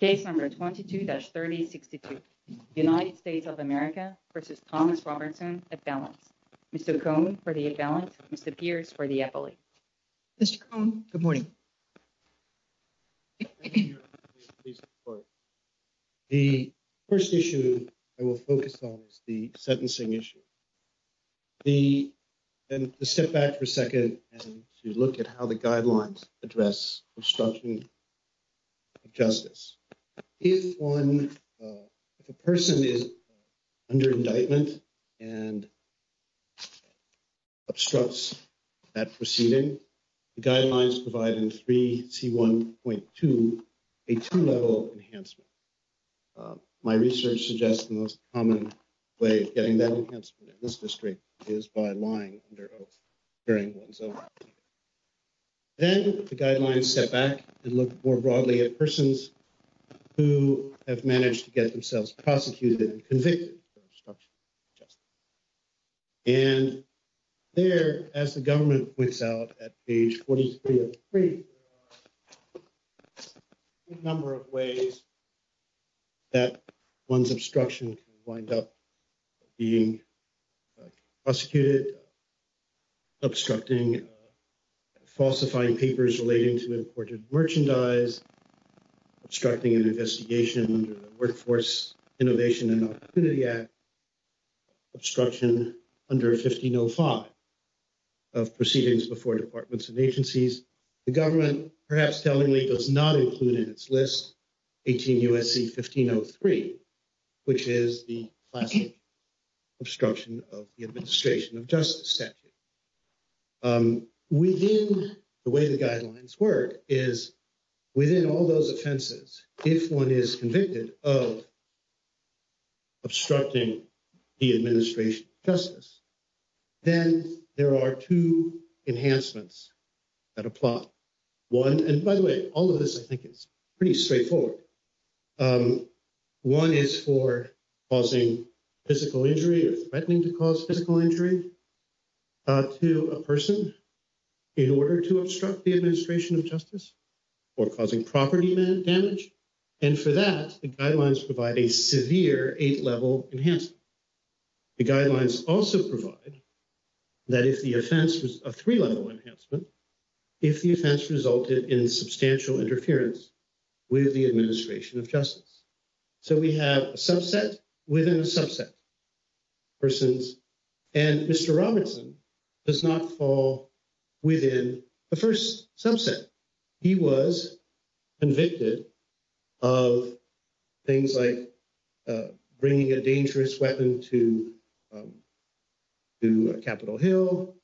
Case number 22-3062, United States of America v. Thomas Robertson at balance. Mr. Cohn for the at balance, Mr. Pierce for the appellate. Mr. Cohn, good morning. The 1st issue I will focus on is the sentencing issue. And to step back for a second and to look at how the guidelines address obstruction of justice. If one, if a person is under indictment and obstructs that proceeding, the guidelines provide in 3C1.2, a two-level enhancement. My research suggests the most common way of getting that enhancement in this district is by lying under oath during one's own impeachment. Then the guidelines step back and look more broadly at persons who have managed to get themselves prosecuted and convicted for obstruction of justice. And there, as the government points out at page 43 of 3, there are a number of ways that one's obstruction can wind up being prosecuted, obstructing falsifying papers relating to imported merchandise, obstructing an investigation under the Workforce Innovation and Opportunity Act, obstruction under 1505 of proceedings before departments and agencies. The government, perhaps tellingly, does not include in its list 18 U.S.C. 1503, which is the classic obstruction of the administration of justice statute. Within the way the guidelines work is within all those offenses, if one is convicted of obstructing the administration of justice, then there are two enhancements that apply. One, and by the way, all of this I think is pretty straightforward. One is for causing physical injury or threatening to cause physical injury to a person in order to obstruct the administration of justice or causing property damage. And for that, the guidelines provide a severe eight-level enhancement. The guidelines also provide that if the offense was a three-level enhancement, if the offense resulted in substantial interference with the administration of justice. So we have a subset within a subset of persons. And Mr. Robinson does not fall within the first subset. He was convicted of things like bringing a dangerous weapon to Capitol Hill,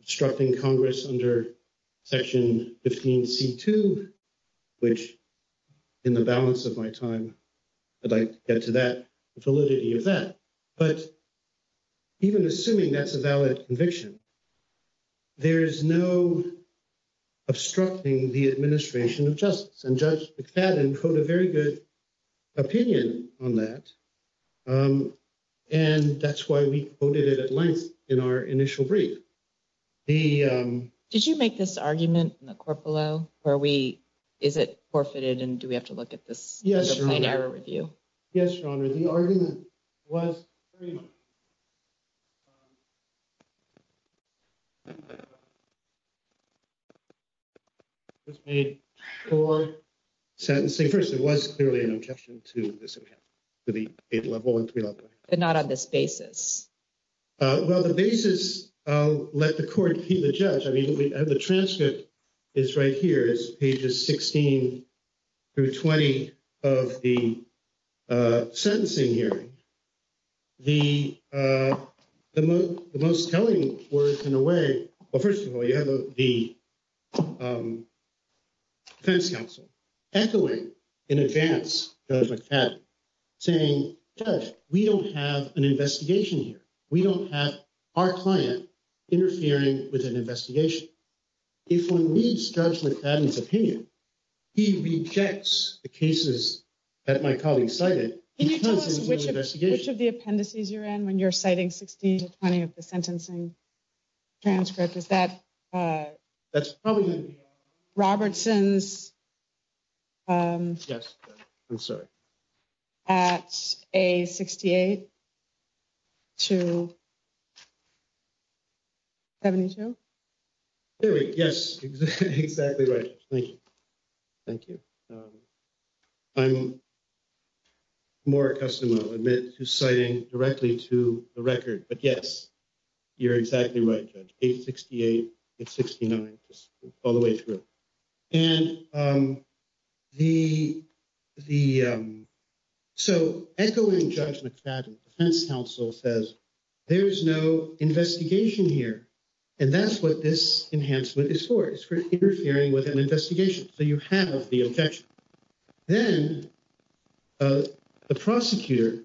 obstructing Congress under Section 15C2, which in the balance of my time, I'd like to get to that validity of that. But even assuming that's a valid conviction, there is no obstructing the administration of justice. And Judge McFadden put a very good opinion on that. And that's why we quoted it at length in our initial brief. Did you make this argument in the court below where we is it forfeited and do we have to look at this? Yes, Your Honor. Yes, Your Honor. The argument was made for sentencing. First, it was clearly an objection to the eight-level and three-level. But not on this basis. Well, the basis, let the court be the judge. I mean, the transcript is right here. It's pages 16 through 20 of the sentencing hearing. The most telling words in a way, well, first of all, you have the defense counsel echoing in advance Judge McFadden saying, Judge, we don't have an investigation here. We don't have our client interfering with an investigation. If we start with McFadden's opinion, he rejects the cases that my colleague cited. Can you tell us which of the appendices you're in when you're citing 16 to 20 of the sentencing transcript? Is that that's probably Robertson's? Yes. I'm sorry. At a 68 to 72. Yes, exactly. Right. Thank you. Thank you. I'm more accustomed, I'll admit, to citing directly to the record. But yes, you're exactly right, Judge. Page 68 and 69, all the way through. And the so echoing Judge McFadden, the defense counsel says, there is no investigation here. And that's what this enhancement is for. It's for interfering with an investigation. So you have the objection. Then the prosecutor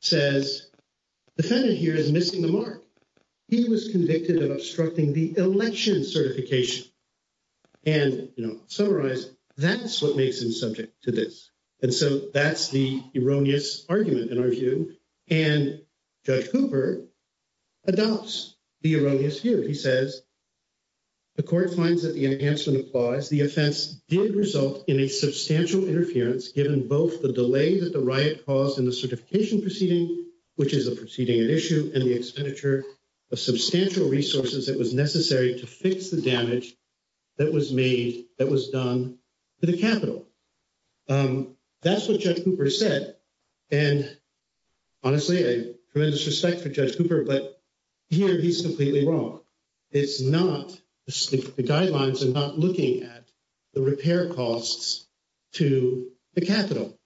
says the defendant here is missing the mark. He was convicted of obstructing the election certification. And, you know, summarize, that's what makes him subject to this. And so that's the erroneous argument in our view. And Judge Cooper adopts the erroneous view. He says. The court finds that the answer implies the offense did result in a substantial interference, given both the delay that the riot caused in the certification proceeding, which is a proceeding at issue, and the expenditure of substantial resources that was necessary to fix the damage that was made, that was done to the Capitol. That's what Judge Cooper said. And honestly, a tremendous respect for Judge Cooper. But here he's completely wrong. It's not the guidelines and not looking at the repair costs to the Capitol.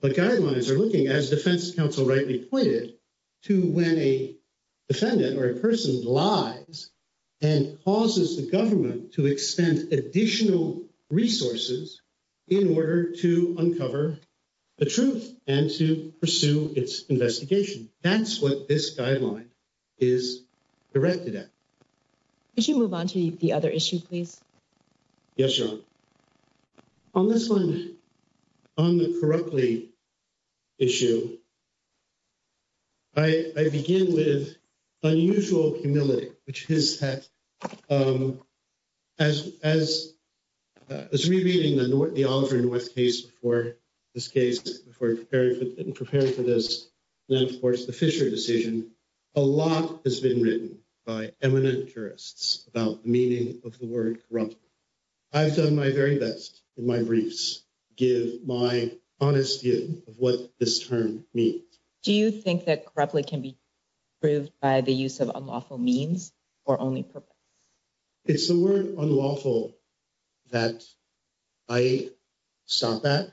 But guidelines are looking, as defense counsel rightly pointed to, when a defendant or a person lies and causes the government to expend additional resources in order to uncover the truth and to pursue its investigation. That's what this guideline is directed at. Could you move on to the other issue, please? Yes, John. On this one, on the correctly. Issue. I begin with unusual humility, which is that. As as it's repeating the north, the Aldrin West case for this case for preparing and preparing for this, then, of course, the Fisher decision, a lot has been written by eminent jurists about the meaning of the word. I've done my very best in my briefs. Give my honest view of what this term means. Do you think that correctly can be proved by the use of unlawful means or only purpose? It's the word unlawful that I saw that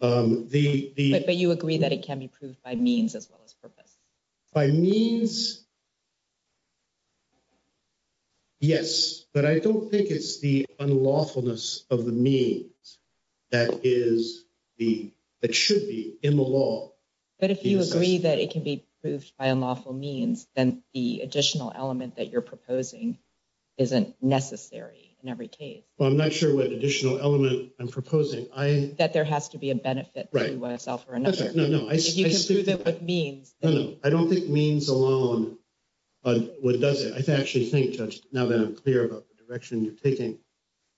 the. But you agree that it can be proved by means as well as purpose. By means. Yes, but I don't think it's the unlawfulness of the means that is the that should be in the law. But if you agree that it can be proved by unlawful means, then the additional element that you're proposing isn't necessary in every case. Well, I'm not sure what additional element I'm proposing. I bet there has to be a benefit. Right. Well, it's all for another. No, no. I see. You can prove it with means. I don't think means alone. What does it? I actually think just now that I'm clear about the direction you're taking,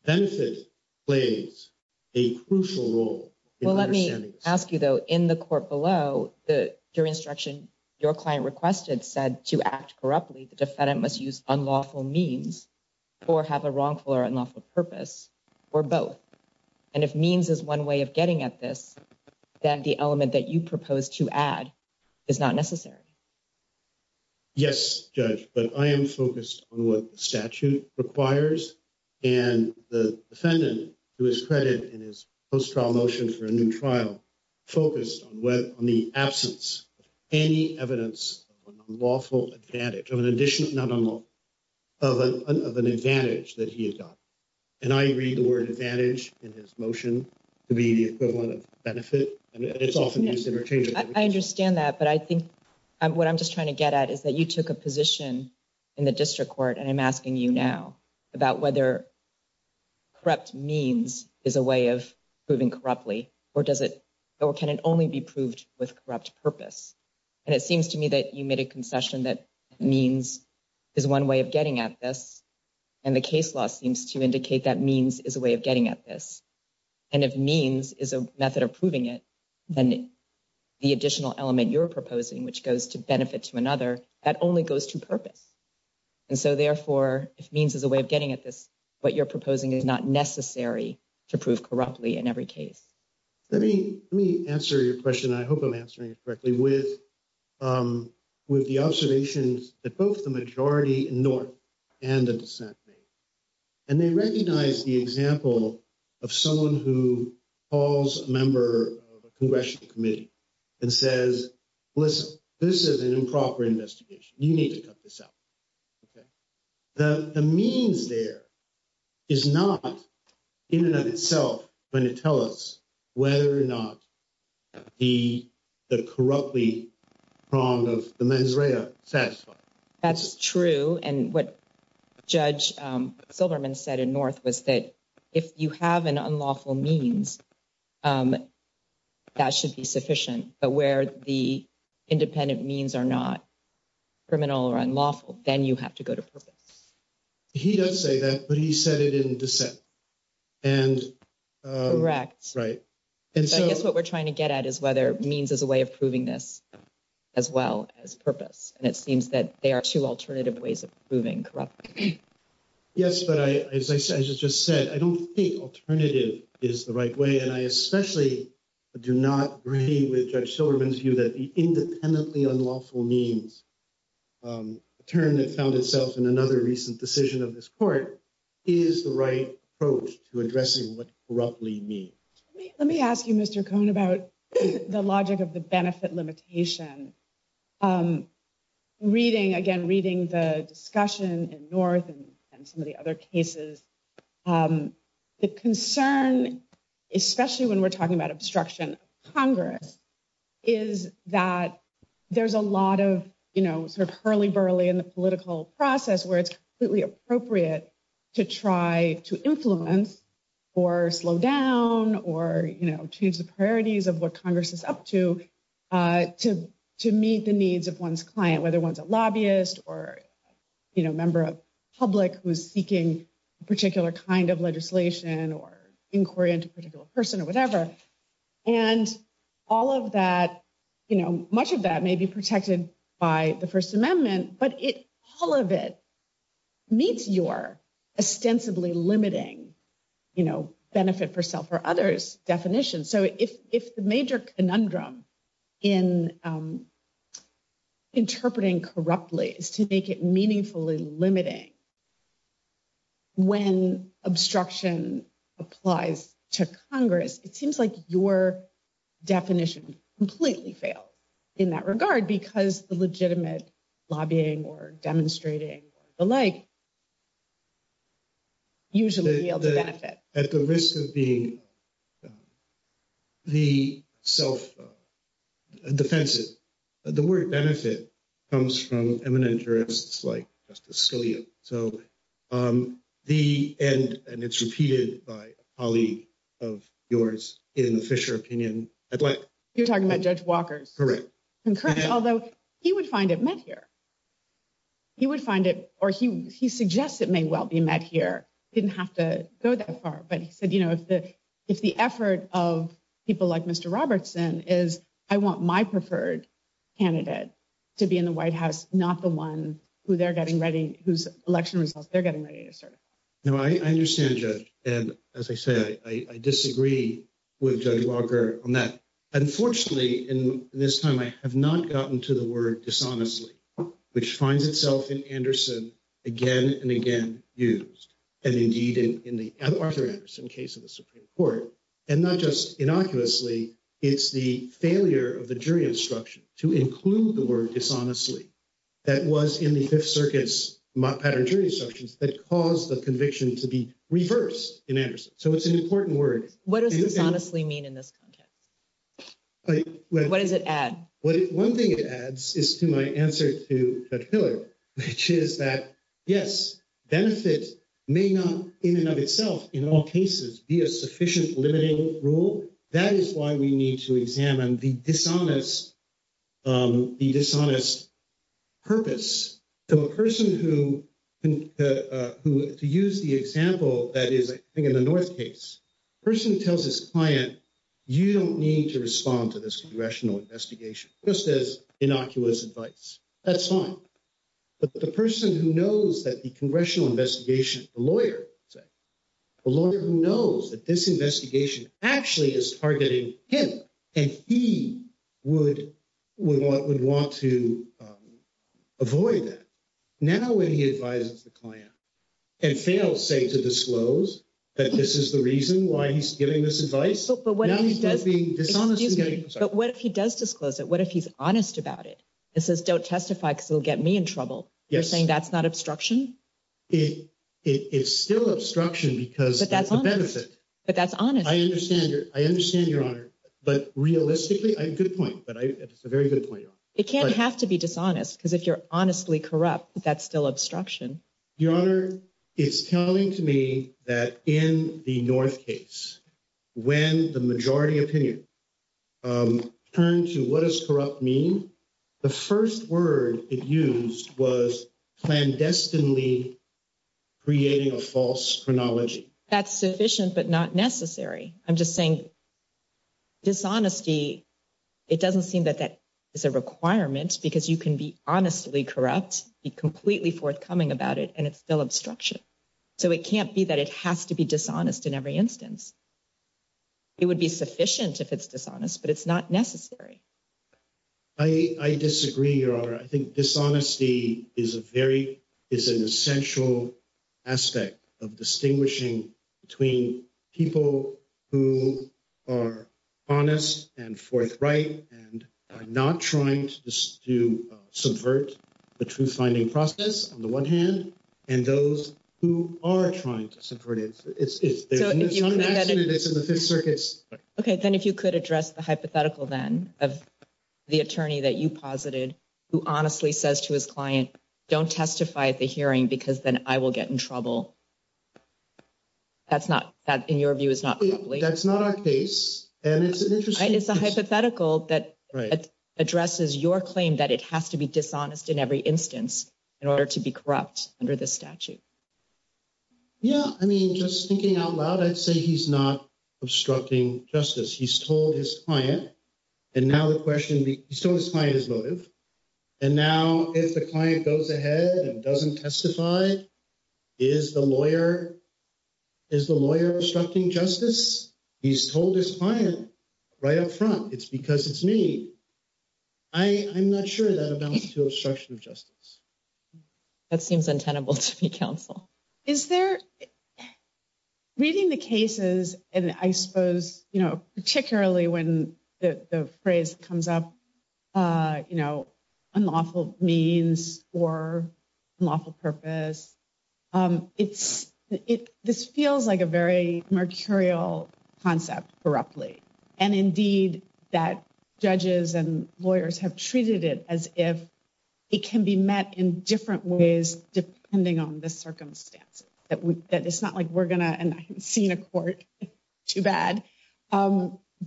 benefit plays a crucial role. Well, let me ask you, though, in the court below that your instruction, your client requested said to act corruptly. The defendant must use unlawful means or have a wrongful or unlawful purpose or both. And if means is one way of getting at this, then the element that you propose to add is not necessary. Yes, judge, but I am focused on what statute requires and the defendant to his credit in his post-trial motion for a new trial focused on the absence of any evidence, unlawful advantage of an additional, not unlawful, of an advantage that he has got. And I read the word advantage in his motion to be the equivalent of benefit. I understand that. But I think what I'm just trying to get at is that you took a position in the district court. And I'm asking you now about whether corrupt means is a way of proving corruptly or does it or can it only be proved with corrupt purpose? And it seems to me that you made a concession that means is one way of getting at this. And the case law seems to indicate that means is a way of getting at this. And if means is a method of proving it, then the additional element you're proposing, which goes to benefit to another, that only goes to purpose. And so, therefore, if means is a way of getting at this, what you're proposing is not necessary to prove corruptly in every case. Let me let me answer your question. I hope I'm answering it correctly. And I'm going to start with the observations that both the majority in North and the dissent made. And they recognize the example of someone who calls a member of a congressional committee and says, listen, this is an improper investigation. You need to cut this out. OK. The means there is not in and of itself going to tell us whether or not the the corruptly pronged of the mens rea satisfy. That's true. And what Judge Silverman said in North was that if you have an unlawful means, that should be sufficient. But where the independent means are not criminal or unlawful, then you have to go to purpose. He does say that, but he said it in dissent. And correct. Right. And so I guess what we're trying to get at is whether means is a way of proving this as well as purpose. And it seems that there are two alternative ways of proving corruption. Yes, but I, as I said, I just just said I don't think alternative is the right way. And I especially do not agree with Judge Silverman's view that the independently unlawful means a term that found itself in another recent decision of this court is the right approach to addressing what corruptly means. Let me ask you, Mr. Cohn, about the logic of the benefit limitation. Reading again, reading the discussion in North and some of the other cases, the concern, especially when we're talking about obstruction of Congress, is that there's a lot of, you know, sort of hurly burly in the political process where it's completely appropriate to try to influence or slow down or, you know, change the priorities of what Congress is up to, to to meet the needs of one's client, whether one's a lobbyist or, you know, you know, much of that may be protected by the First Amendment, but it all of it meets your ostensibly limiting, you know, benefit for self or others definition. So if if the major conundrum in interpreting corruptly is to make it meaningfully limiting. When obstruction applies to Congress, it seems like your definition completely failed in that regard, because the legitimate lobbying or demonstrating the like. Usually the benefit at the risk of being the self defensive, the word benefit comes from eminent jurists like Justice Scalia. So the end and it's repeated by a colleague of yours in the Fisher opinion. You're talking about Judge Walker's. Correct. Although he would find it met here. He would find it or he he suggests it may well be met here. Didn't have to go that far. But he said, you know, if the if the effort of people like Mr. Robertson is I want my preferred candidate to be in the White House, not the one who they're getting ready, whose election results they're getting ready to serve. Now, I understand, and as I say, I disagree with Judge Walker on that. Unfortunately, in this time, I have not gotten to the word dishonestly, which finds itself in Anderson again and again used. And indeed, in the Arthur Anderson case of the Supreme Court, and not just innocuously, it's the failure of the jury instruction to include the word dishonestly. That was in the Fifth Circuit's pattern jury sections that caused the conviction to be reversed in Anderson. So it's an important word. What does dishonestly mean in this context? What does it add? One thing it adds is to my answer to that pillar, which is that, yes, benefit may not in and of itself in all cases be a sufficient limiting rule. So that is why we need to examine the dishonest, the dishonest purpose. So a person who who to use the example that is, I think, in the North case person tells his client, you don't need to respond to this congressional investigation just as innocuous advice. That's fine. But the person who knows that the congressional investigation, the lawyer, the lawyer who knows that this investigation actually is targeting him and he would would want to avoid that. Now, when he advises the client and fails, say, to disclose that this is the reason why he's giving this advice. But what if he does disclose it? What if he's honest about it? This is don't testify because it'll get me in trouble. You're saying that's not obstruction. It's still obstruction because that's the benefit. But that's honest. I understand. I understand your honor. But realistically, a good point. But it's a very good point. It can't have to be dishonest because if you're honestly corrupt, that's still obstruction. Your Honor, it's telling to me that in the North case, when the majority opinion turned to what is corrupt mean, the first word it used was clandestinely creating a false chronology. That's sufficient, but not necessary. I'm just saying. Dishonesty, it doesn't seem that that is a requirement because you can be honestly corrupt, be completely forthcoming about it, and it's still obstruction. So it can't be that it has to be dishonest in every instance. It would be sufficient if it's dishonest, but it's not necessary. I disagree, Your Honor. I think dishonesty is a very is an essential aspect of distinguishing between people who are honest and forthright and not trying to subvert the truth finding process on the one hand and those who are trying to subvert it. OK, then if you could address the hypothetical then of the attorney that you posited who honestly says to his client, don't testify at the hearing because then I will get in trouble. That's not that, in your view, is not that's not our case. And it's it's a hypothetical that addresses your claim that it has to be dishonest in every instance in order to be corrupt under the statute. Yeah, I mean, just thinking out loud, I'd say he's not obstructing justice. He's told his client. And now the question is motive. And now if the client goes ahead and doesn't testify, is the lawyer is the lawyer obstructing justice? He's told his client right up front. It's because it's me. I'm not sure that amounts to obstruction of justice. That seems untenable to me. Counsel is there. Reading the cases, and I suppose, you know, particularly when the phrase comes up, you know, unlawful means or lawful purpose, it's it. It's a very mercurial concept for roughly and indeed that judges and lawyers have treated it as if it can be met in different ways, depending on the circumstances that that it's not like we're going to see in a court too bad.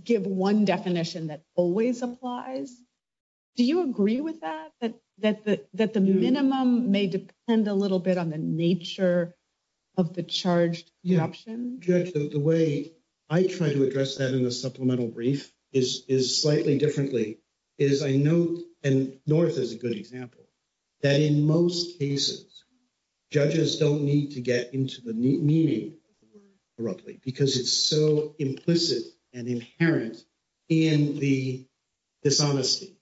Give one definition that always applies. Do you agree with that? That that that the minimum may depend a little bit on the nature of the charged option? Judge, the way I try to address that in a supplemental brief is is slightly differently is I note and North is a good example that in most cases, judges don't need to get into the meeting. Roughly, because it's so implicit and inherent in the dishonesty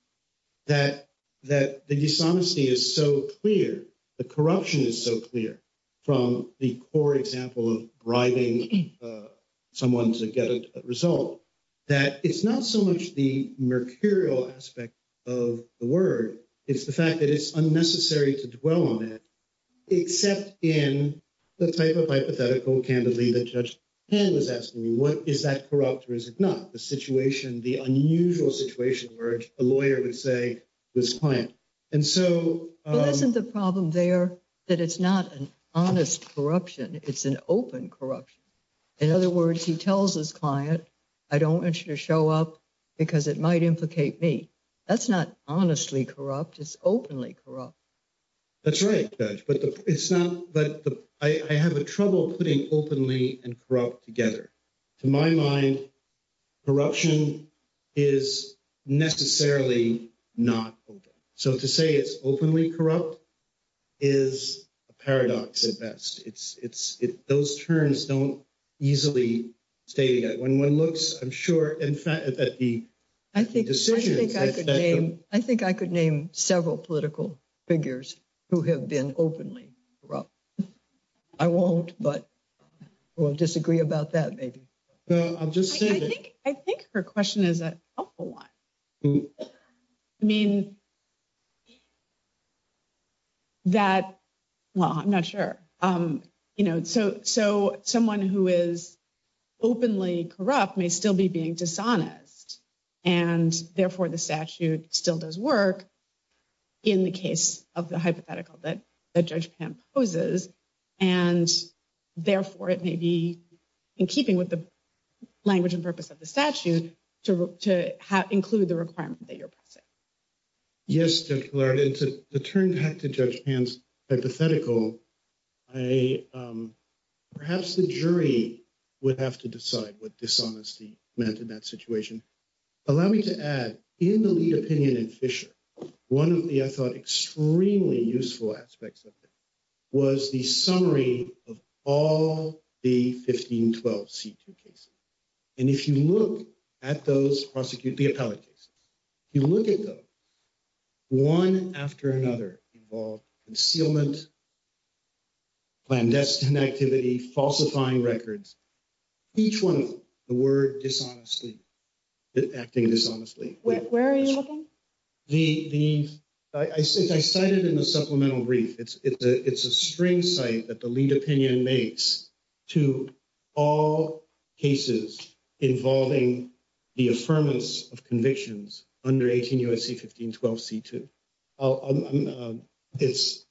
that that the dishonesty is so clear, the corruption is so clear from the core example of writing someone to get a result that it's not so much the mercurial aspect of the word. It's the fact that it's unnecessary to dwell on it, except in the type of hypothetical. Candidly, the judge was asking me, what is that corrupt? Is it not the situation? The unusual situation where a lawyer would say this client? And so isn't the problem there that it's not an honest corruption? It's an open corruption. In other words, he tells his client, I don't want you to show up because it might implicate me. That's not honestly corrupt is openly corrupt. That's right, but it's not, but I have a trouble putting openly and corrupt together to my mind. Corruption is necessarily not open. So to say it's openly corrupt. I think I could name several political figures who have been openly corrupt. I won't, but we'll disagree about that. Maybe I'll just say, I think her question is a helpful one. I mean, that, well, I'm not sure. So someone who is openly corrupt may still be being dishonest. And therefore, the statute still does work in the case of the hypothetical that Judge Pan poses. And therefore, it may be in keeping with the language and purpose of the statute to include the requirement that you're pressing. Yes, it's a turn back to Judge Pan's hypothetical. Perhaps the jury would have to decide what dishonesty meant in that situation. Allow me to add, in the lead opinion in Fisher, one of the, I thought, extremely useful aspects of it was the summary of all the 1512 C2 cases. And if you look at those prosecuted, the appellate cases, if you look at those, one after another involved concealment, clandestine activity, falsifying records, each one of them, the word dishonestly, acting dishonestly. Where are you looking? I cited in the supplemental brief. It's a string site that the lead opinion makes to all cases involving the affirmance of convictions under 18 U.S.C. 1512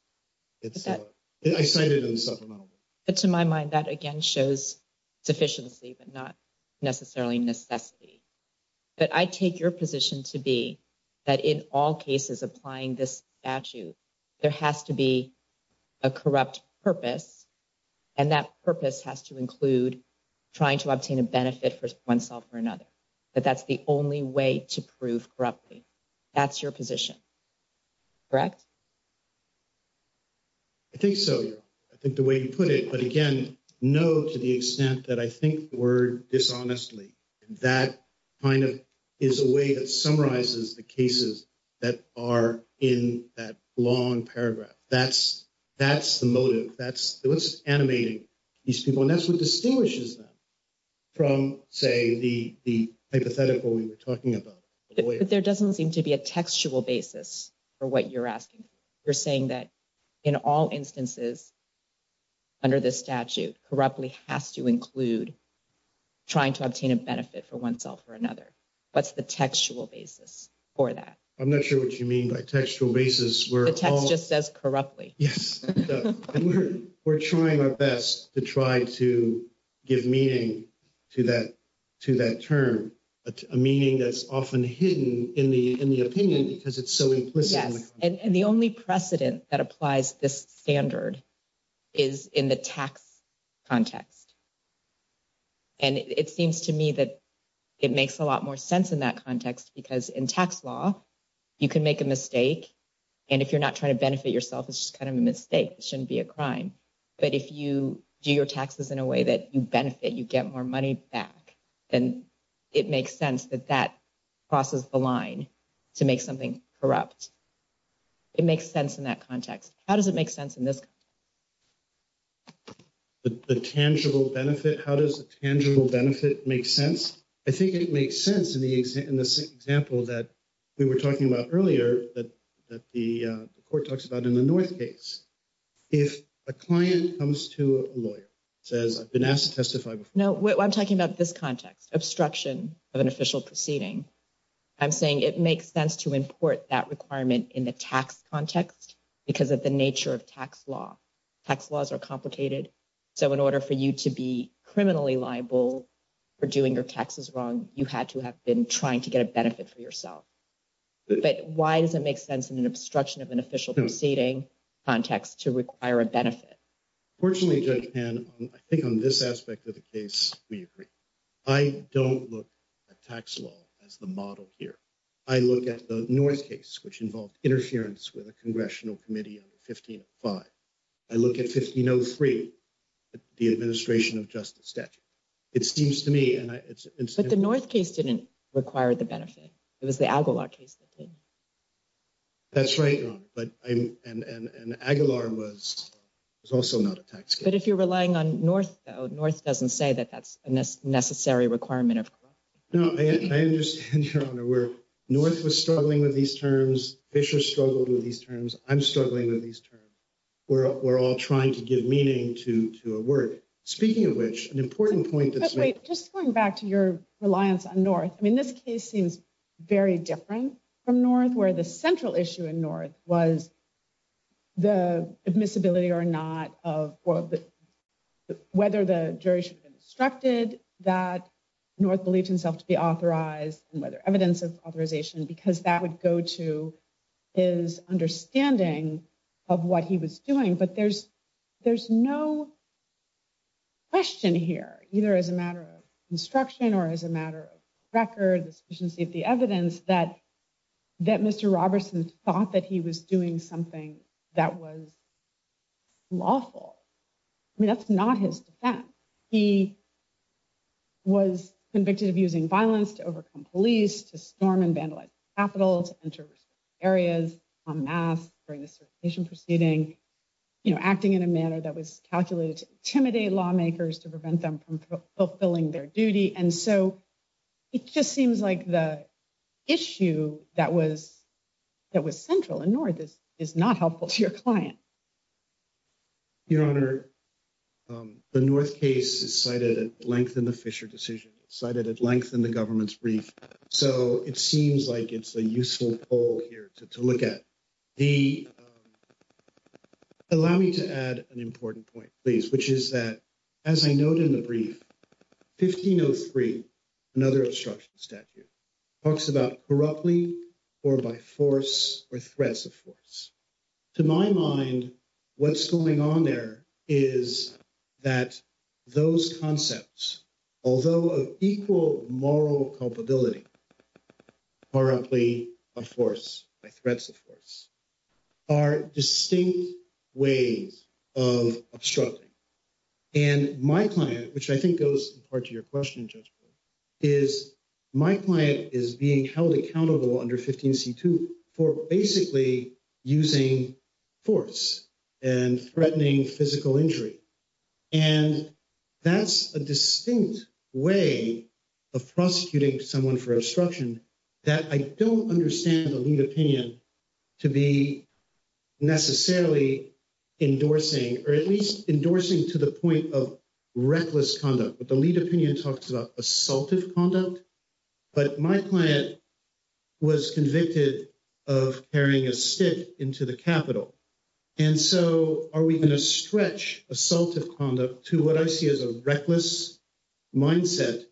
C2. I cited in the supplemental brief. But to my mind, that again shows sufficiency, but not necessarily necessity. But I take your position to be that in all cases applying this statute, there has to be a corrupt purpose. And that purpose has to include trying to obtain a benefit for oneself or another. But that's the only way to prove corruptly. That's your position. Correct. I think so. I think the way you put it, but again, no, to the extent that I think the word dishonestly, that kind of is a way that summarizes the cases that are in that long paragraph. That's the motive. That's what's animating these people. And that's what distinguishes them from, say, the hypothetical we were talking about. But there doesn't seem to be a textual basis for what you're asking. You're saying that in all instances under this statute, corruptly has to include trying to obtain a benefit for oneself or another. What's the textual basis for that? I'm not sure what you mean by textual basis. The text just says corruptly. We're trying our best to try to give meaning to that term, a meaning that's often hidden in the opinion because it's so implicit. Yes. And the only precedent that applies this standard is in the tax context. And it seems to me that it makes a lot more sense in that context because in tax law, you can make a mistake. And if you're not trying to benefit yourself, it's just kind of a mistake. It shouldn't be a crime. But if you do your taxes in a way that you benefit, you get more money back, then it makes sense that that crosses the line to make something corrupt. It makes sense in that context. How does it make sense in this context? The tangible benefit, how does the tangible benefit make sense? I think it makes sense in the example that we were talking about earlier that the court talks about in the North case. If a client comes to a lawyer, says, I've been asked to testify before. No, I'm talking about this context, obstruction of an official proceeding. I'm saying it makes sense to import that requirement in the tax context because of the nature of tax law. Tax laws are complicated. So in order for you to be criminally liable for doing your taxes wrong, you had to have been trying to get a benefit for yourself. But why does it make sense in an obstruction of an official proceeding context to require a benefit? Fortunately, Judge Pan, I think on this aspect of the case, we agree. I don't look at tax law as the model here. I look at the North case, which involved interference with a congressional committee under 1505. I look at 1503, the administration of justice statute. It seems to me. But the North case didn't require the benefit. It was the Aguilar case that did. That's right. But an Aguilar was also not a tax. But if you're relying on North, North doesn't say that that's a necessary requirement of growth. No, I understand, Your Honor, where North was struggling with these terms. Fisher struggled with these terms. I'm struggling with these terms. We're all trying to give meaning to a word. Speaking of which, an important point that's just going back to your reliance on North. I mean, this case seems very different from North, where the central issue in North was. The admissibility or not of whether the jury should be instructed that North believed himself to be authorized and whether evidence of authorization, because that would go to his understanding of what he was doing. But there's there's no question here, either as a matter of instruction or as a matter of record, the sufficiency of the evidence that that Mr. Robertson thought that he was doing something that was lawful. I mean, that's not his defense. He was convicted of using violence to overcome police, to storm and vandalize capitals, enter areas on mass during the certification proceeding, you know, acting in a manner that was calculated to intimidate lawmakers to prevent them from fulfilling their duty. And so it just seems like the issue that was that was central in North is not helpful to your client. Your Honor, the North case is cited at length in the Fisher decision cited at length in the government's brief. So it seems like it's a useful poll here to look at the. Allow me to add an important point, please, which is that, as I noted in the brief, 1503, another obstruction statute talks about corruptly or by force or threats of force. To my mind, what's going on there is that those concepts, although of equal moral culpability. Are distinct ways of obstructing and my client, which I think goes in part to your question, just is my client is being held accountable under 15 C2 for basically using force and threatening physical injury. And that's a distinct way of prosecuting someone for obstruction that I don't understand the lead opinion to be necessarily endorsing, or at least endorsing to the point of reckless conduct. But the lead opinion talks about assaultive conduct. But my client was convicted of carrying a stick into the Capitol. And so are we going to stretch assaultive conduct to what I see as a reckless mindset?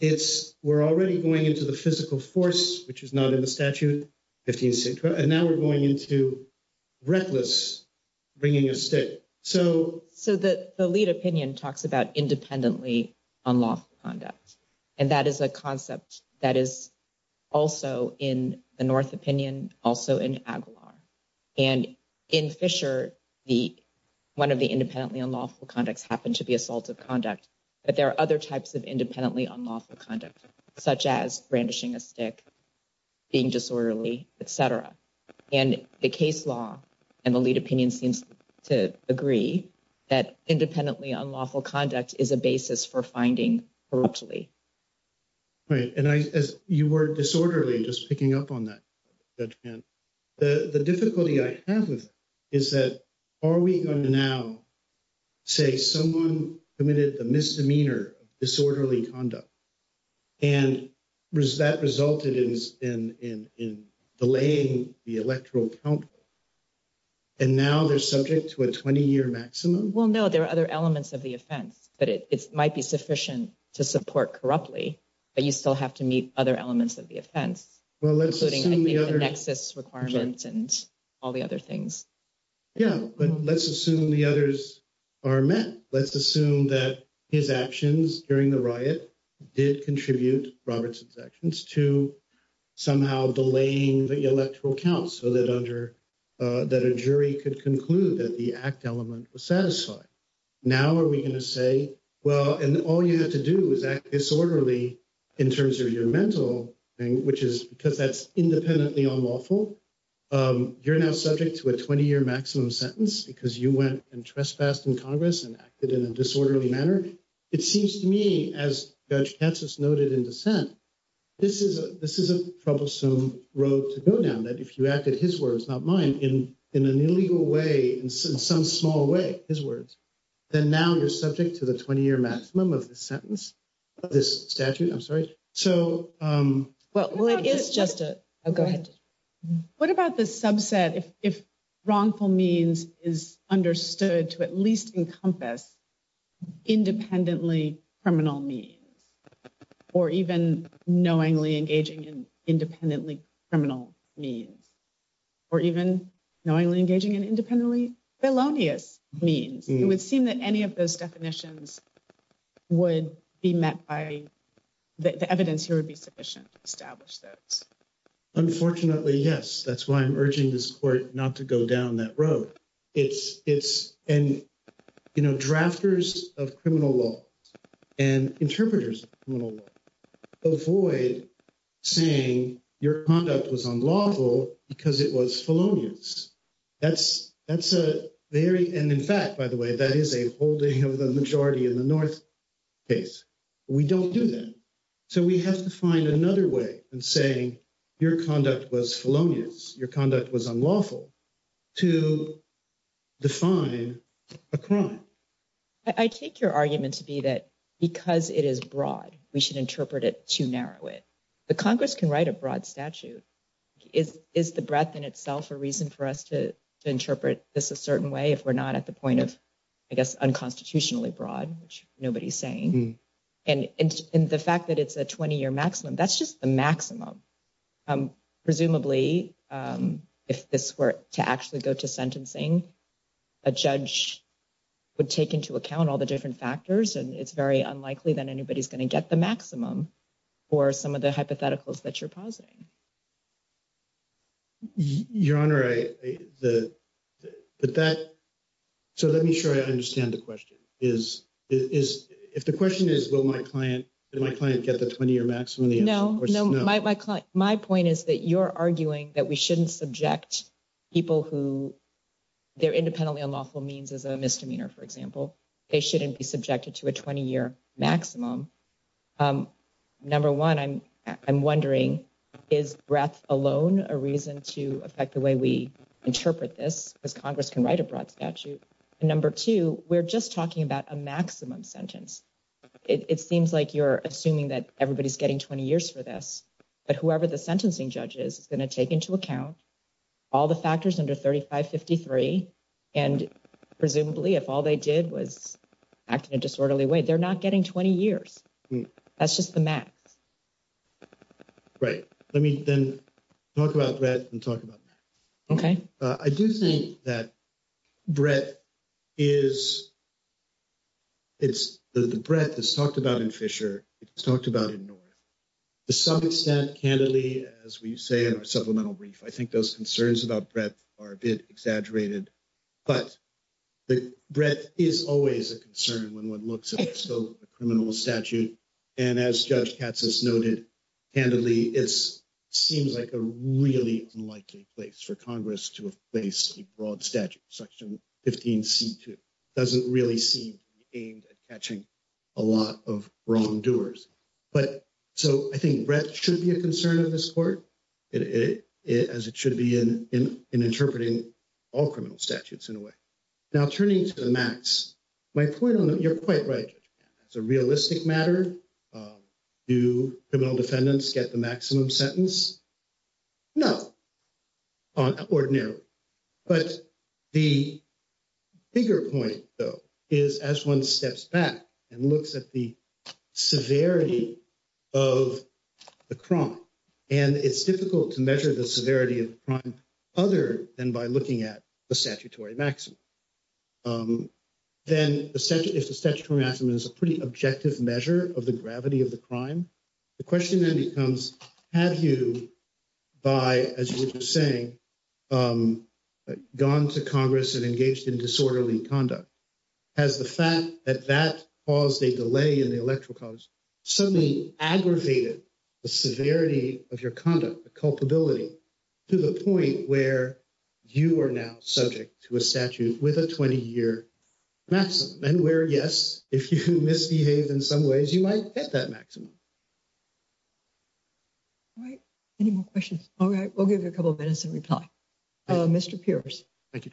It's we're already going into the physical force, which is not in the statute. And now we're going into reckless bringing a stick. So, so that the lead opinion talks about independently on law conduct. And that is a concept that is also in the North opinion, also in Aguilar. And in Fisher, the one of the independently unlawful conducts happened to be assaultive conduct. But there are other types of independently unlawful conduct, such as brandishing a stick. Being disorderly, et cetera. And the case law and the lead opinion seems to agree that independently unlawful conduct is a basis for finding corruptly. Right. And as you were disorderly, just picking up on that, the difficulty I have is that are we going to now say someone committed the misdemeanor disorderly conduct. And that resulted in delaying the electoral count. And now they're subject to a 20 year maximum. Well, no, there are other elements of the offense, but it might be sufficient to support corruptly. But you still have to meet other elements of the offense. Well, let's assume the other nexus requirements and all the other things. Yeah, but let's assume the others are met. Let's assume that his actions during the riot did contribute, Robertson's actions, to somehow delaying the electoral count so that under that a jury could conclude that the act element was satisfied. Now, are we going to say, well, and all you have to do is act disorderly in terms of your mental thing, which is because that's independently unlawful. You're now subject to a 20 year maximum sentence because you went and trespassed in Congress and acted in a disorderly manner. It seems to me, as Judge Katsas noted in dissent, this is a troublesome road to go down, that if you acted his words, not mine, in an illegal way, in some small way, his words, then now you're subject to the 20 year maximum of this sentence, of this statute. I'm sorry. So. Well, it's just a go ahead. What about the subset if wrongful means is understood to at least encompass independently criminal means or even knowingly engaging in independently criminal means or even knowingly engaging in independently felonious means? It would seem that any of those definitions would be met by the evidence here would be sufficient to establish that. Unfortunately, yes, that's why I'm urging this court not to go down that road. It's it's and, you know, drafters of criminal law and interpreters avoid saying your conduct was unlawful because it was felonious. That's that's a very and in fact, by the way, that is a holding of the majority in the North case. We don't do that. So we have to find another way and saying your conduct was felonious. Your conduct was unlawful to define a crime. I take your argument to be that because it is broad, we should interpret it to narrow it. The Congress can write a broad statute is is the breadth in itself a reason for us to interpret this a certain way if we're not at the point of, I guess, unconstitutionally broad, which nobody's saying. And in the fact that it's a 20 year maximum, that's just the maximum. Presumably, if this were to actually go to sentencing, a judge would take into account all the different factors. And it's very unlikely that anybody's going to get the maximum or some of the hypotheticals that you're positing. Your Honor, I, the, but that. So let me show you. I understand the question is, is if the question is, will my client, my client get the 20 year maximum? No, no, my, my client, my point is that you're arguing that we shouldn't subject people who they're independently unlawful means is a misdemeanor. For example, they shouldn't be subjected to a 20 year maximum. Number one, I'm I'm wondering, is breath alone a reason to affect the way we interpret this as Congress can write a broad statute? And number two, we're just talking about a maximum sentence. It seems like you're assuming that everybody's getting 20 years for this. But whoever the sentencing judges is going to take into account all the factors under 3553. And presumably, if all they did was act in a disorderly way, they're not getting 20 years. That's just the max. Right. Let me then talk about that and talk about that. OK, I do think that breath is. It's the breath is talked about in Fisher. It's talked about in North. To some extent, candidly, as we say in our supplemental brief, I think those concerns about breath are a bit exaggerated. But the breath is always a concern when one looks at the criminal statute. And as Judge Katz has noted, candidly, it's seems like a really unlikely place for Congress to place a broad statute. Section 15C2 doesn't really seem aimed at catching a lot of wrongdoers. But so I think breath should be a concern of this court as it should be in interpreting all criminal statutes in a way. Now, turning to the max, my point on that, you're quite right. It's a realistic matter. Do criminal defendants get the maximum sentence? No, ordinarily. But the bigger point, though, is as one steps back and looks at the severity of the crime. And it's difficult to measure the severity of the crime other than by looking at the statutory maximum. Then if the statutory maximum is a pretty objective measure of the gravity of the crime. The question then becomes, have you by, as you were saying, gone to Congress and engaged in disorderly conduct? Has the fact that that caused a delay in the electoral college suddenly aggravated the severity of your conduct, the culpability, to the point where you are now subject to a statute with a 20-year maximum? And where, yes, if you misbehave in some ways, you might get that maximum. All right. Any more questions? All right. We'll give you a couple minutes and reply. Mr. Pierce. Thank you.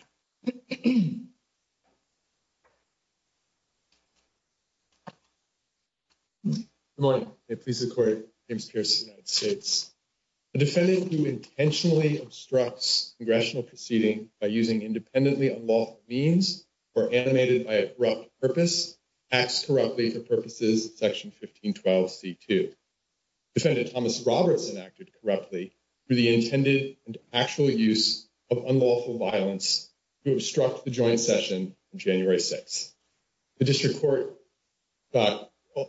Good morning. I'm a police reporter. James Pierce, United States. A defendant who intentionally obstructs congressional proceeding by using independently unlawful means or animated by a corrupt purpose acts corruptly for purposes Section 1512C2. Defendant Thomas Robertson acted corruptly through the intended and actual use of unlawful violence to obstruct the joint session on January 6. The district court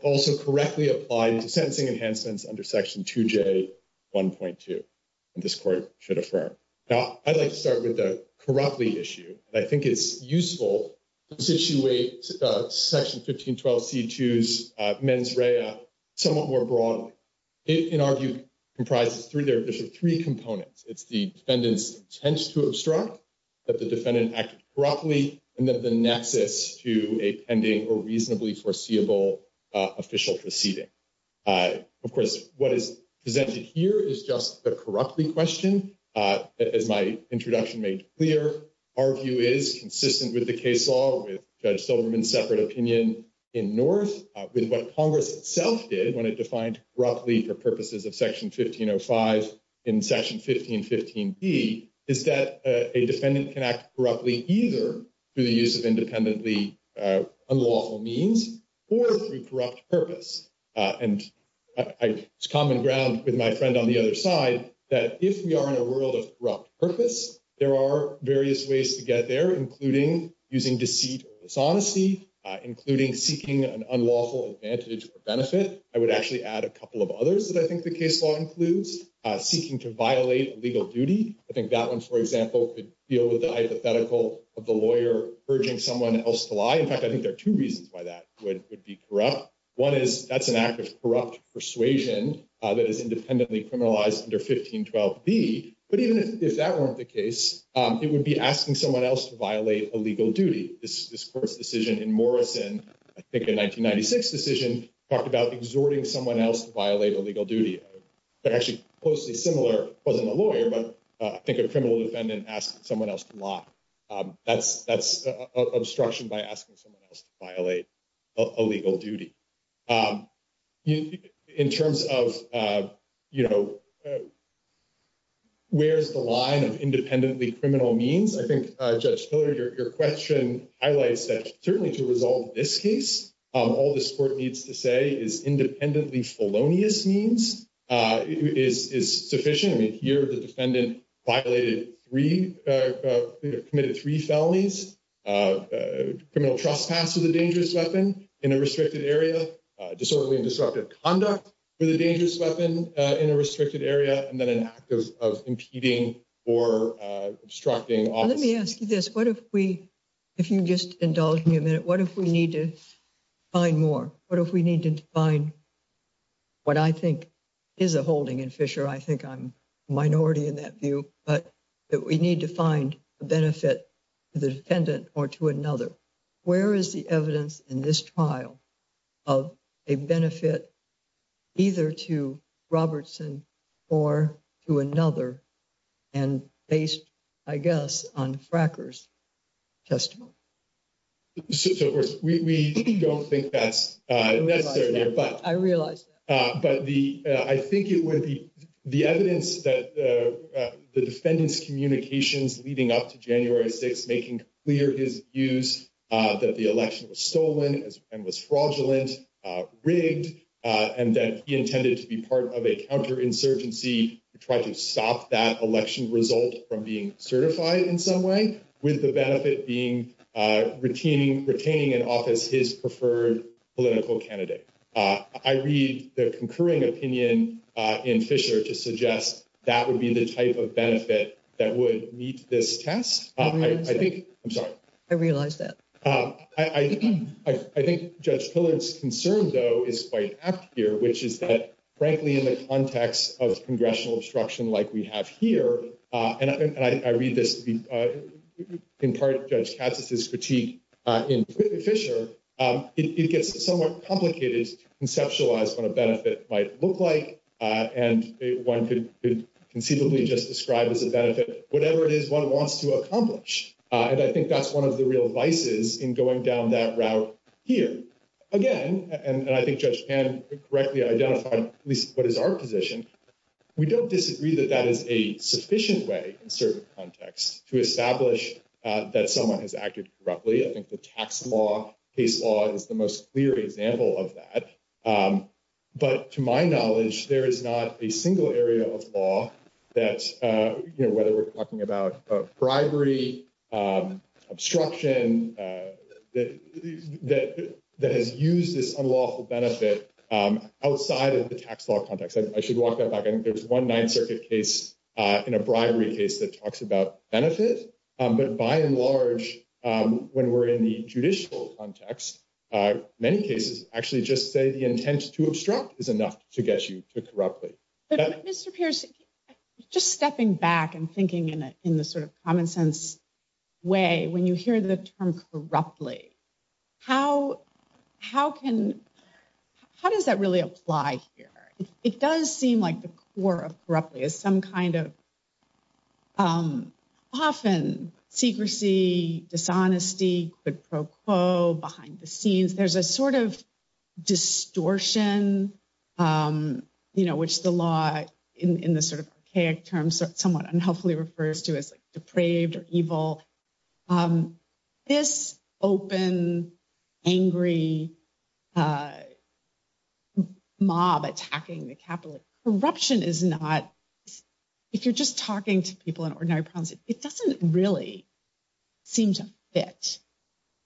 also correctly applied the sentencing enhancements under Section 2J1.2, and this court should affirm. Now, I'd like to start with the corruptly issue. I think it's useful to situate Section 1512C2's mens rea somewhat more broadly. It, in our view, comprises of three components. It's the defendant's intent to obstruct, that the defendant acted corruptly, and then the nexus to a pending or reasonably foreseeable official proceeding. Of course, what is presented here is just the corruptly question. As my introduction made clear, our view is consistent with the case law, with Judge Silverman's separate opinion in North, with what Congress itself did when it defined corruptly for purposes of Section 1505 in Section 1515B, is that a defendant can act corruptly either through the use of independently unlawful means or through corrupt purpose. And it's common ground with my friend on the other side that if we are in a world of corrupt purpose, there are various ways to get there, including using deceit or dishonesty, including seeking an unlawful advantage or benefit. I would actually add a couple of others that I think the case law includes, seeking to violate a legal duty. I think that one, for example, could deal with the hypothetical of the lawyer urging someone else to lie. In fact, I think there are two reasons why that would be corrupt. One is that's an act of corrupt persuasion that is independently criminalized under 1512B, but even if that weren't the case, it would be asking someone else to violate a legal duty. This court's decision in Morrison, I think a 1996 decision, talked about exhorting someone else to violate a legal duty. Actually, closely similar, wasn't a lawyer, but I think a criminal defendant asked someone else to lie. That's obstruction by asking someone else to violate a legal duty. In terms of, you know, where's the line of independently criminal means? I think, Judge Hiller, your question highlights that certainly to resolve this case, all this court needs to say is independently felonious means is sufficient. I mean, here the defendant violated three, committed three felonies, criminal trespass with a dangerous weapon in a restricted area, disorderly and disruptive conduct with a dangerous weapon in a restricted area, and then an act of impeding or obstructing. Let me ask you this. What if we, if you just indulge me a minute, what if we need to find more? What if we need to find what I think is a holding in Fisher? I think I'm minority in that view, but that we need to find a benefit to the defendant or to another. Where is the evidence in this trial of a benefit either to Robertson or to another? And based, I guess, on frackers testimony. We don't think that's necessary, but I realized, but the I think it would be the evidence that the defendants communications leading up to January 6, making clear his use that the election was stolen and was fraudulent rigged. And that he intended to be part of a counter insurgency to try to stop that election result from being certified in some way with the benefit being retaining, retaining an office, his preferred political candidate. I read the concurring opinion in Fisher to suggest that would be the type of benefit that would meet this test. I think, I'm sorry, I realized that I, I, I think judge pillars concern, though, is quite apt here, which is that, frankly, in the context of congressional obstruction, like we have here, and I read this. In part, judge catches his critique in Fisher, it gets somewhat complicated, conceptualize what a benefit might look like. And one could conceivably just describe as a benefit, whatever it is one wants to accomplish. And I think that's one of the real vices in going down that route here again. And I think judge can correctly identify at least what is our position. We don't disagree that that is a sufficient way in certain contexts to establish that someone has acted corruptly. I think the tax law case law is the most clear example of that. But to my knowledge, there is not a single area of law that, whether we're talking about bribery, obstruction, that has used this unlawful benefit outside of the tax law context. I should walk that back. I think there's one Ninth Circuit case in a bribery case that talks about benefit. But by and large, when we're in the judicial context, many cases actually just say the intent to obstruct is enough to get you to corruptly. But Mr. Pierce, just stepping back and thinking in the sort of common sense way, when you hear the term corruptly, how does that really apply here? It does seem like the core of corruptly is some kind of often secrecy, dishonesty, quid pro quo, behind the scenes. There's a sort of distortion, which the law in the sort of archaic terms somewhat unhelpfully refers to as depraved or evil. This open, angry mob attacking the capital corruption is not, if you're just talking to people in ordinary problems, it doesn't really seem to fit.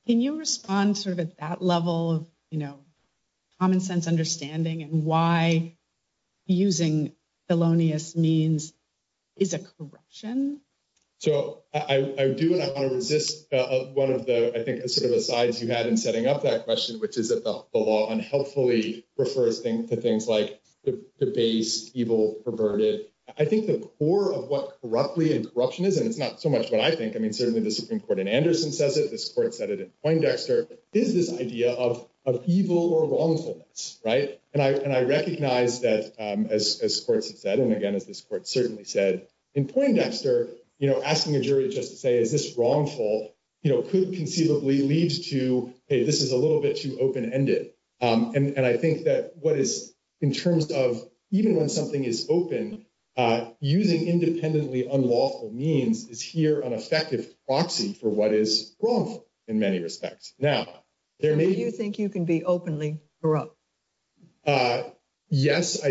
Can you respond sort of at that level of common sense understanding and why using felonious means is a corruption? So I do want to resist one of the sort of asides you had in setting up that question, which is that the law unhelpfully refers to things like debased, evil, perverted. I think the core of what corruptly and corruption is, and it's not so much what I think, I mean, certainly the Supreme Court in Anderson says it, this court said it in Poindexter, is this idea of evil or wrongfulness. And I recognize that as courts have said, and again, as this court certainly said in Poindexter, asking a jury just to say, is this wrongful could conceivably lead to, hey, this is a little bit too open ended. And I think that what is in terms of even when something is open, using independently unlawful means is here an effective proxy for what is wrongful in many respects. Now, there may be. Do you think you can be openly corrupt? Yes, I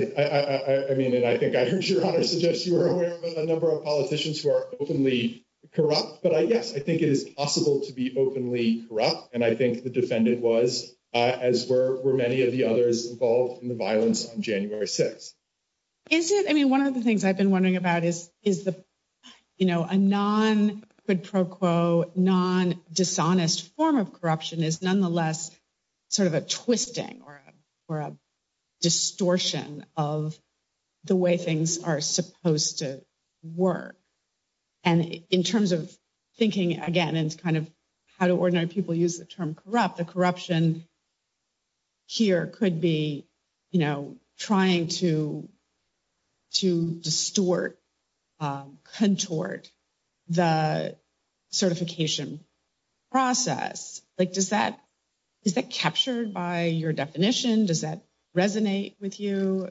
mean, and I think I heard your honor suggest you were aware of a number of politicians who are openly corrupt. But yes, I think it is possible to be openly corrupt. And I think the defendant was, as were many of the others involved in the violence on January 6. Is it I mean, one of the things I've been wondering about is, is the, you know, a non quid pro quo, non dishonest form of corruption is nonetheless sort of a twisting or a distortion of the way things are supposed to work. And in terms of thinking, again, it's kind of how do ordinary people use the term corrupt? The corruption here could be, you know, trying to to distort, contort the certification process. Like, does that is that captured by your definition? Does that resonate with you?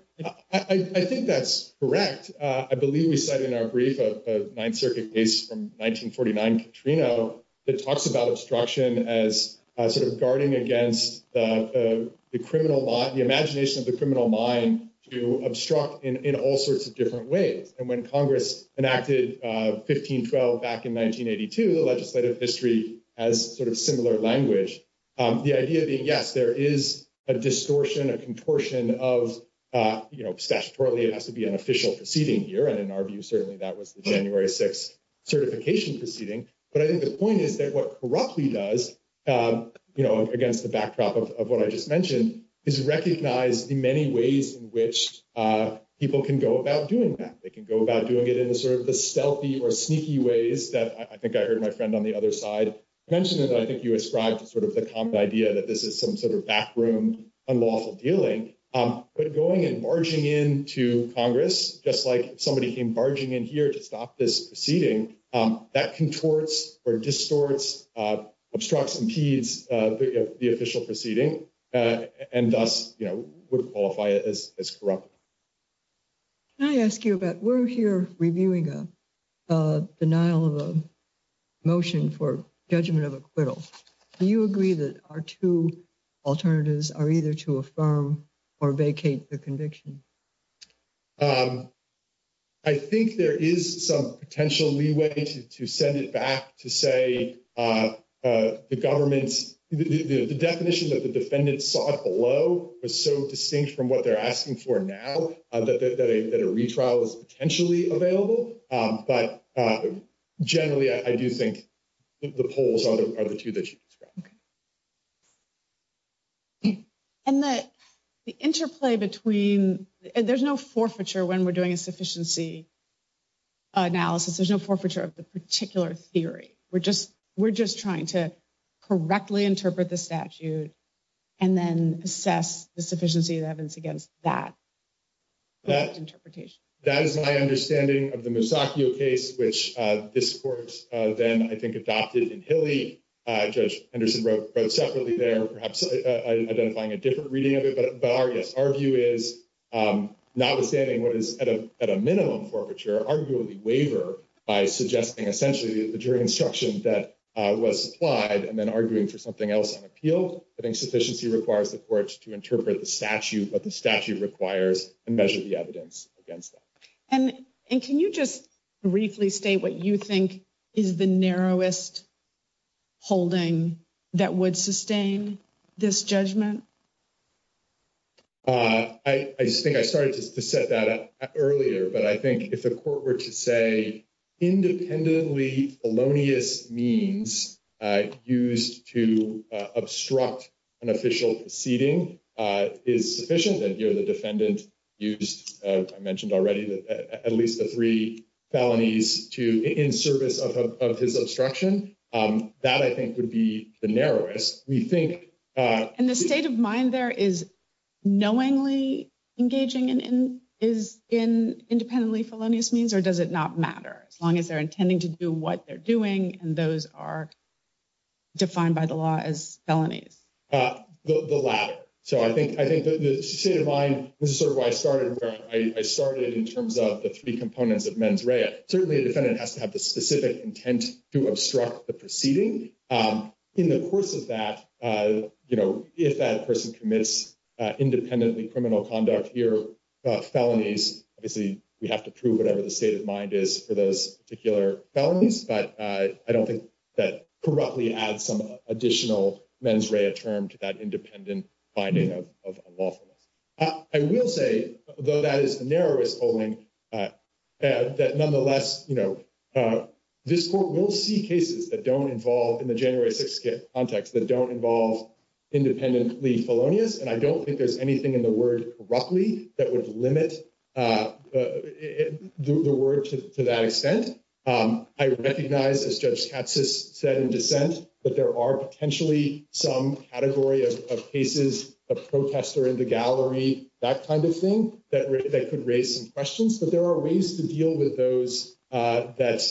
I think that's correct. I believe we said in our brief of Ninth Circuit case from 1949, Katrina, that talks about obstruction as sort of guarding against the criminal law, the imagination of the criminal mind to obstruct in all sorts of different ways. And when Congress enacted 1512 back in 1982, the legislative history as sort of similar language. The idea being, yes, there is a distortion, a contortion of, you know, statutorily, it has to be an official proceeding here. And in our view, certainly that was the January 6 certification proceeding. But I think the point is that what corruptly does, you know, against the backdrop of what I just mentioned, is recognize the many ways in which people can go about doing that. They can go about doing it in the sort of the stealthy or sneaky ways that I think I heard my friend on the other side mentioned. And I think you ascribed to sort of the common idea that this is some sort of backroom, unlawful dealing. But going and barging into Congress, just like somebody came barging in here to stop this proceeding, that contorts or distorts, obstructs, impedes the official proceeding and thus would qualify as corrupt. Can I ask you about, we're here reviewing a denial of a motion for judgment of acquittal. Do you agree that our two alternatives are either to affirm or vacate the conviction? I think there is some potential leeway to send it back to say the government's, the definition that the defendants sought below was so distinct from what they're asking for now that a retrial is potentially available. But generally, I do think the polls are the two that you described. And the interplay between, there's no forfeiture when we're doing a sufficiency analysis. There's no forfeiture of the particular theory. We're just trying to correctly interpret the statute and then assess the sufficiency of evidence against that interpretation. That is my understanding of the Musacchio case, which this court then, I think, adopted in Hilly. Judge Henderson wrote separately there, perhaps identifying a different reading of it. But yes, our view is notwithstanding what is at a minimum forfeiture, arguably waiver by suggesting essentially the jury instruction that was supplied and then arguing for something else on appeal. I think sufficiency requires the courts to interpret the statute, what the statute requires, and measure the evidence against that. And can you just briefly state what you think is the narrowest holding that would sustain this judgment? I think I started to set that up earlier, but I think if the court were to say independently felonious means used to obstruct an official proceeding is sufficient. And here the defendant used, I mentioned already, at least the three felonies in service of his obstruction. That, I think, would be the narrowest. And the state of mind there is knowingly engaging in independently felonious means, or does it not matter as long as they're intending to do what they're doing and those are defined by the law as felonies? The latter. So I think the state of mind, this is sort of where I started, where I started in terms of the three components of mens rea. Certainly a defendant has to have the specific intent to obstruct the proceeding. In the course of that, if that person commits independently criminal conduct here, felonies, obviously we have to prove whatever the state of mind is for those particular felonies. But I don't think that corruptly adds some additional mens rea term to that independent finding of lawfulness. I will say, though that is the narrowest polling, that nonetheless, you know, this court will see cases that don't involve, in the January 6th context, that don't involve independently felonious. And I don't think there's anything in the word corruptly that would limit the word to that extent. I recognize, as Judge Katsas said in dissent, that there are potentially some category of cases, a protester in the gallery, that kind of thing, that could raise some questions. But there are ways to deal with those that,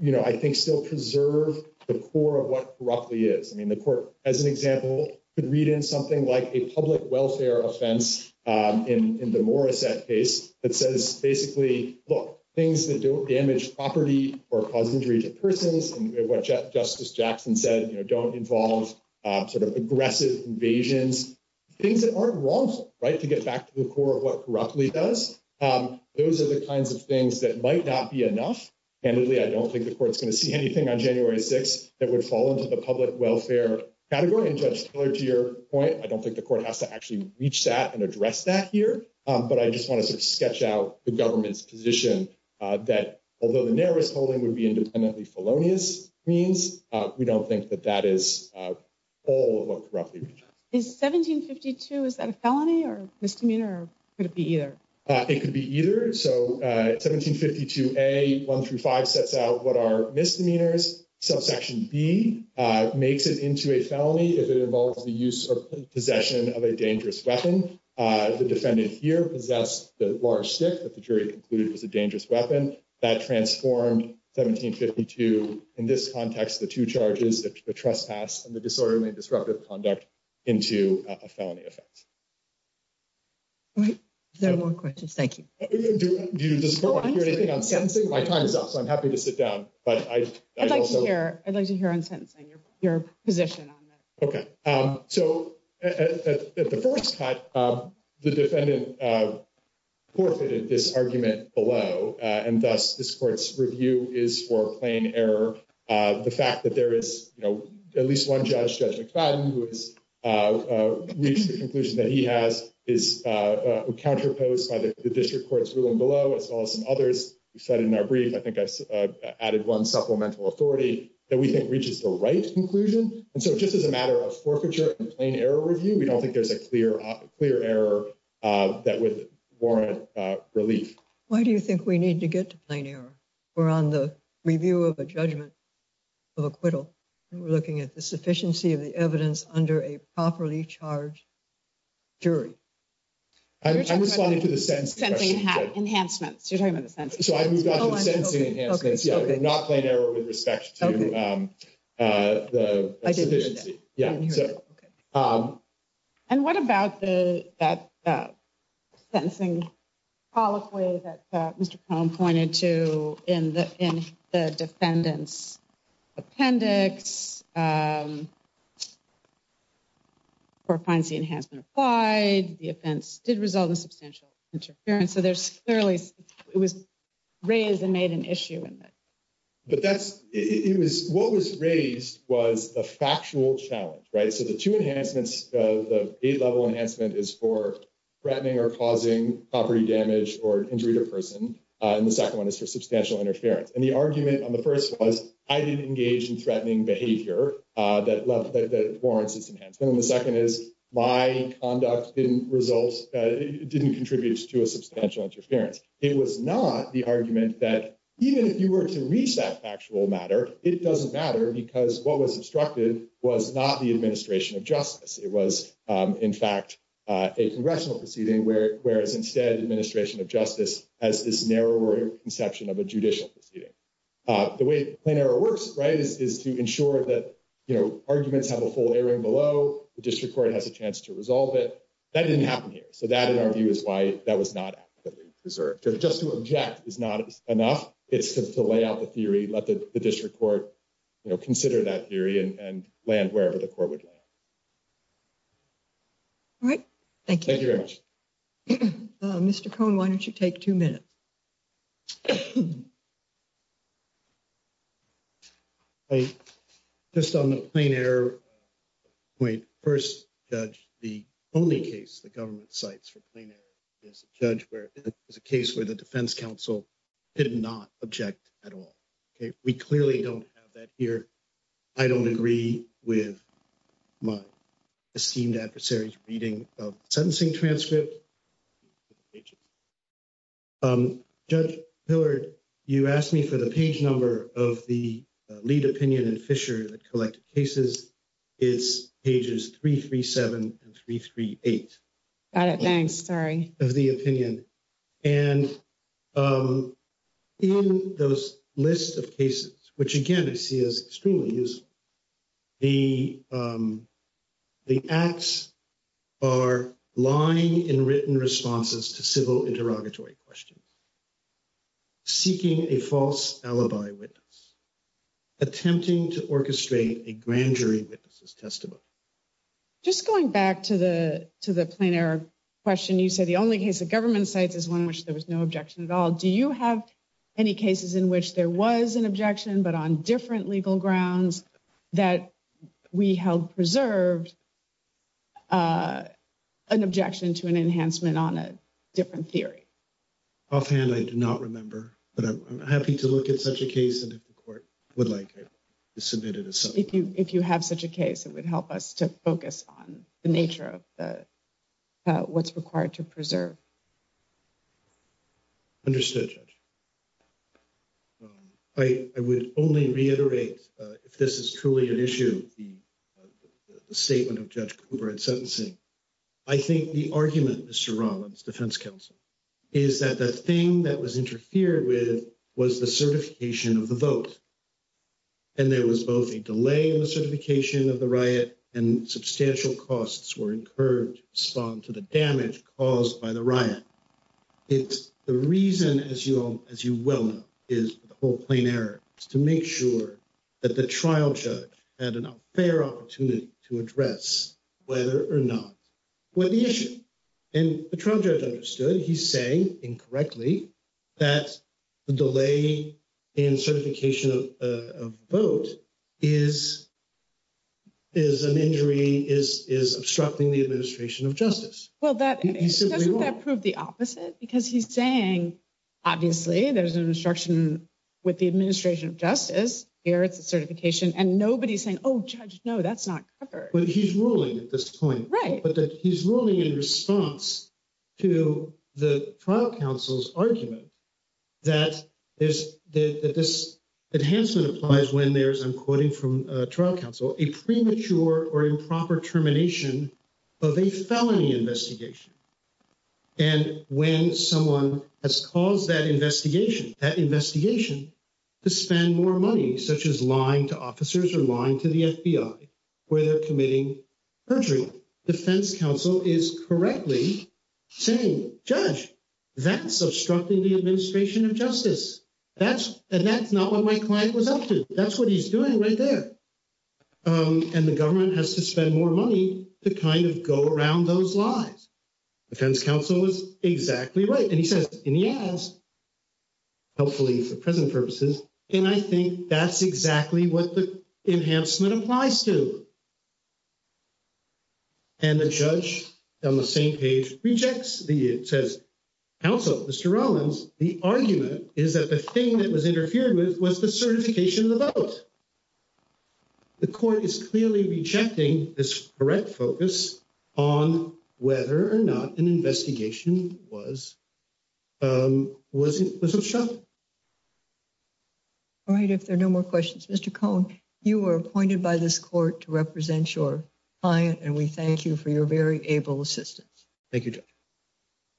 you know, I think still preserve the core of what corruptly is. I mean, the court, as an example, could read in something like a public welfare offense in the Morissette case that says, basically, look, things that don't damage property or cause injury to persons, and what Justice Jackson said, you know, don't involve sort of aggressive invasions, things that aren't wrongful, right, to get back to the core of what corruptly does. Those are the kinds of things that might not be enough. Candidly, I don't think the court's going to see anything on January 6th that would fall into the public welfare category. And Judge Keller, to your point, I don't think the court has to actually reach that and address that here. But I just want to sort of sketch out the government's position that, although the narrowest polling would be independently felonious means, we don't think that that is all of what corruptly means. Is 1752, is that a felony or misdemeanor, or could it be either? It could be either. So 1752A, 1 through 5, sets out what are misdemeanors. Subsection B makes it into a felony if it involves the use or possession of a dangerous weapon. The defendant here possessed the large stick that the jury concluded was a dangerous weapon. That transformed 1752, in this context, the two charges, the trespass and the disorderly and disruptive conduct, into a felony offense. All right. Is there more questions? Thank you. Do you want to hear anything on sentencing? My time is up, so I'm happy to sit down. I'd like to hear on sentencing your position on that. OK, so at the first cut, the defendant forfeited this argument below, and thus this court's review is for plain error. The fact that there is, you know, at least one judge, Judge McFadden, who has reached the conclusion that he has, is counterposed by the district court's ruling below, as well as others. You said in our brief, I think I added one supplemental authority that we think reaches the right conclusion. And so just as a matter of forfeiture and plain error review, we don't think there's a clear, clear error that would warrant relief. Why do you think we need to get to plain error? We're on the review of a judgment of acquittal. We're looking at the sufficiency of the evidence under a properly charged jury. I'm responding to the sentencing enhancements. You're talking about the sentencing enhancements. So I moved on to the sentencing enhancements. Not plain error with respect to the sufficiency. And what about that sentencing colloquy that Mr. Cohn pointed to in the defendant's appendix? The offense did result in substantial interference. So there's clearly it was raised and made an issue. But that's it was what was raised was the factual challenge. Right. So the two enhancements, the eight level enhancement is for threatening or causing property damage or injury to a person. And the second one is for substantial interference. And the argument on the first was I didn't engage in threatening behavior that left that warrants enhancement. And the second is my conduct didn't result. It didn't contribute to a substantial interference. It was not the argument that even if you were to reach that factual matter, it doesn't matter because what was obstructed was not the administration of justice. It was, in fact, a congressional proceeding, whereas instead administration of justice as this narrower conception of a judicial proceeding. The way plain error works, right, is to ensure that arguments have a full airing below. The district court has a chance to resolve it. That didn't happen here. So that, in our view, is why that was not preserved. Just to object is not enough. It's to lay out the theory, let the district court consider that theory and land wherever the court would land. All right. Thank you. Thank you very much. Mr. Cohen, why don't you take two minutes? I just on the plane air. Wait, first, judge, the only case the government sites for playing there is a judge where there's a case where the defense counsel did not object at all. Okay, we clearly don't have that here. I don't agree with my esteemed adversaries reading of sentencing transcript. Judge, you asked me for the page number of the lead opinion and Fisher collected cases. It's pages three, three, seven, three, three, eight. Got it. Thanks. Sorry of the opinion. And in those list of cases, which, again, I see is extremely use. The the acts are lying in written responses to civil interrogatory questions. Seeking a false alibi with attempting to orchestrate a grand jury witnesses testimony. Just going back to the to the plane air question, you said the only case of government sites is one which there was no objection at all. Do you have any cases in which there was an objection, but on different legal grounds that we held preserved an objection to an enhancement on a different theory? Offhand, I do not remember, but I'm happy to look at such a case. And if the court would like to submit it, if you if you have such a case, it would help us to focus on the nature of the what's required to preserve. Understood. I would only reiterate if this is truly an issue, the statement of judge Cooper and sentencing. I think the argument, Mr. Rollins, defense counsel, is that the thing that was interfered with was the certification of the vote. And there was both a delay in the certification of the riot and substantial costs were incurred to respond to the damage caused by the riot. It's the reason, as you all, as you well know, is the whole plane error to make sure that the trial judge had a fair opportunity to address whether or not. What the issue and the trial judge understood, he's saying incorrectly that the delay in certification of vote is. Is an injury is is obstructing the administration of justice. Well, that doesn't prove the opposite because he's saying, obviously, there's an instruction with the administration of justice here. That's a certification and nobody's saying, oh, no, that's not what he's ruling at this point. Right. But he's ruling in response to the trial counsel's argument. That is that this enhancement applies when there's, I'm quoting from trial counsel, a premature or improper termination of a felony investigation. And when someone has caused that investigation, that investigation to spend more money, such as lying to officers or lying to the FBI where they're committing perjury. Defense counsel is correctly saying judge that's obstructing the administration of justice. That's and that's not what my client was up to. That's what he's doing right there. And the government has to spend more money to kind of go around those lies. Defense counsel is exactly right. And he says, yes. Hopefully, for present purposes, and I think that's exactly what the enhancement applies to. And the judge on the same page rejects the says, also, Mr. Rollins, the argument is that the thing that was interfered with was the certification of the vote. The court is clearly rejecting this correct focus on whether or not an investigation was. Was it. All right, if there are no more questions, Mr. Cohn, you were appointed by this court to represent your client and we thank you for your very able assistance. Thank you.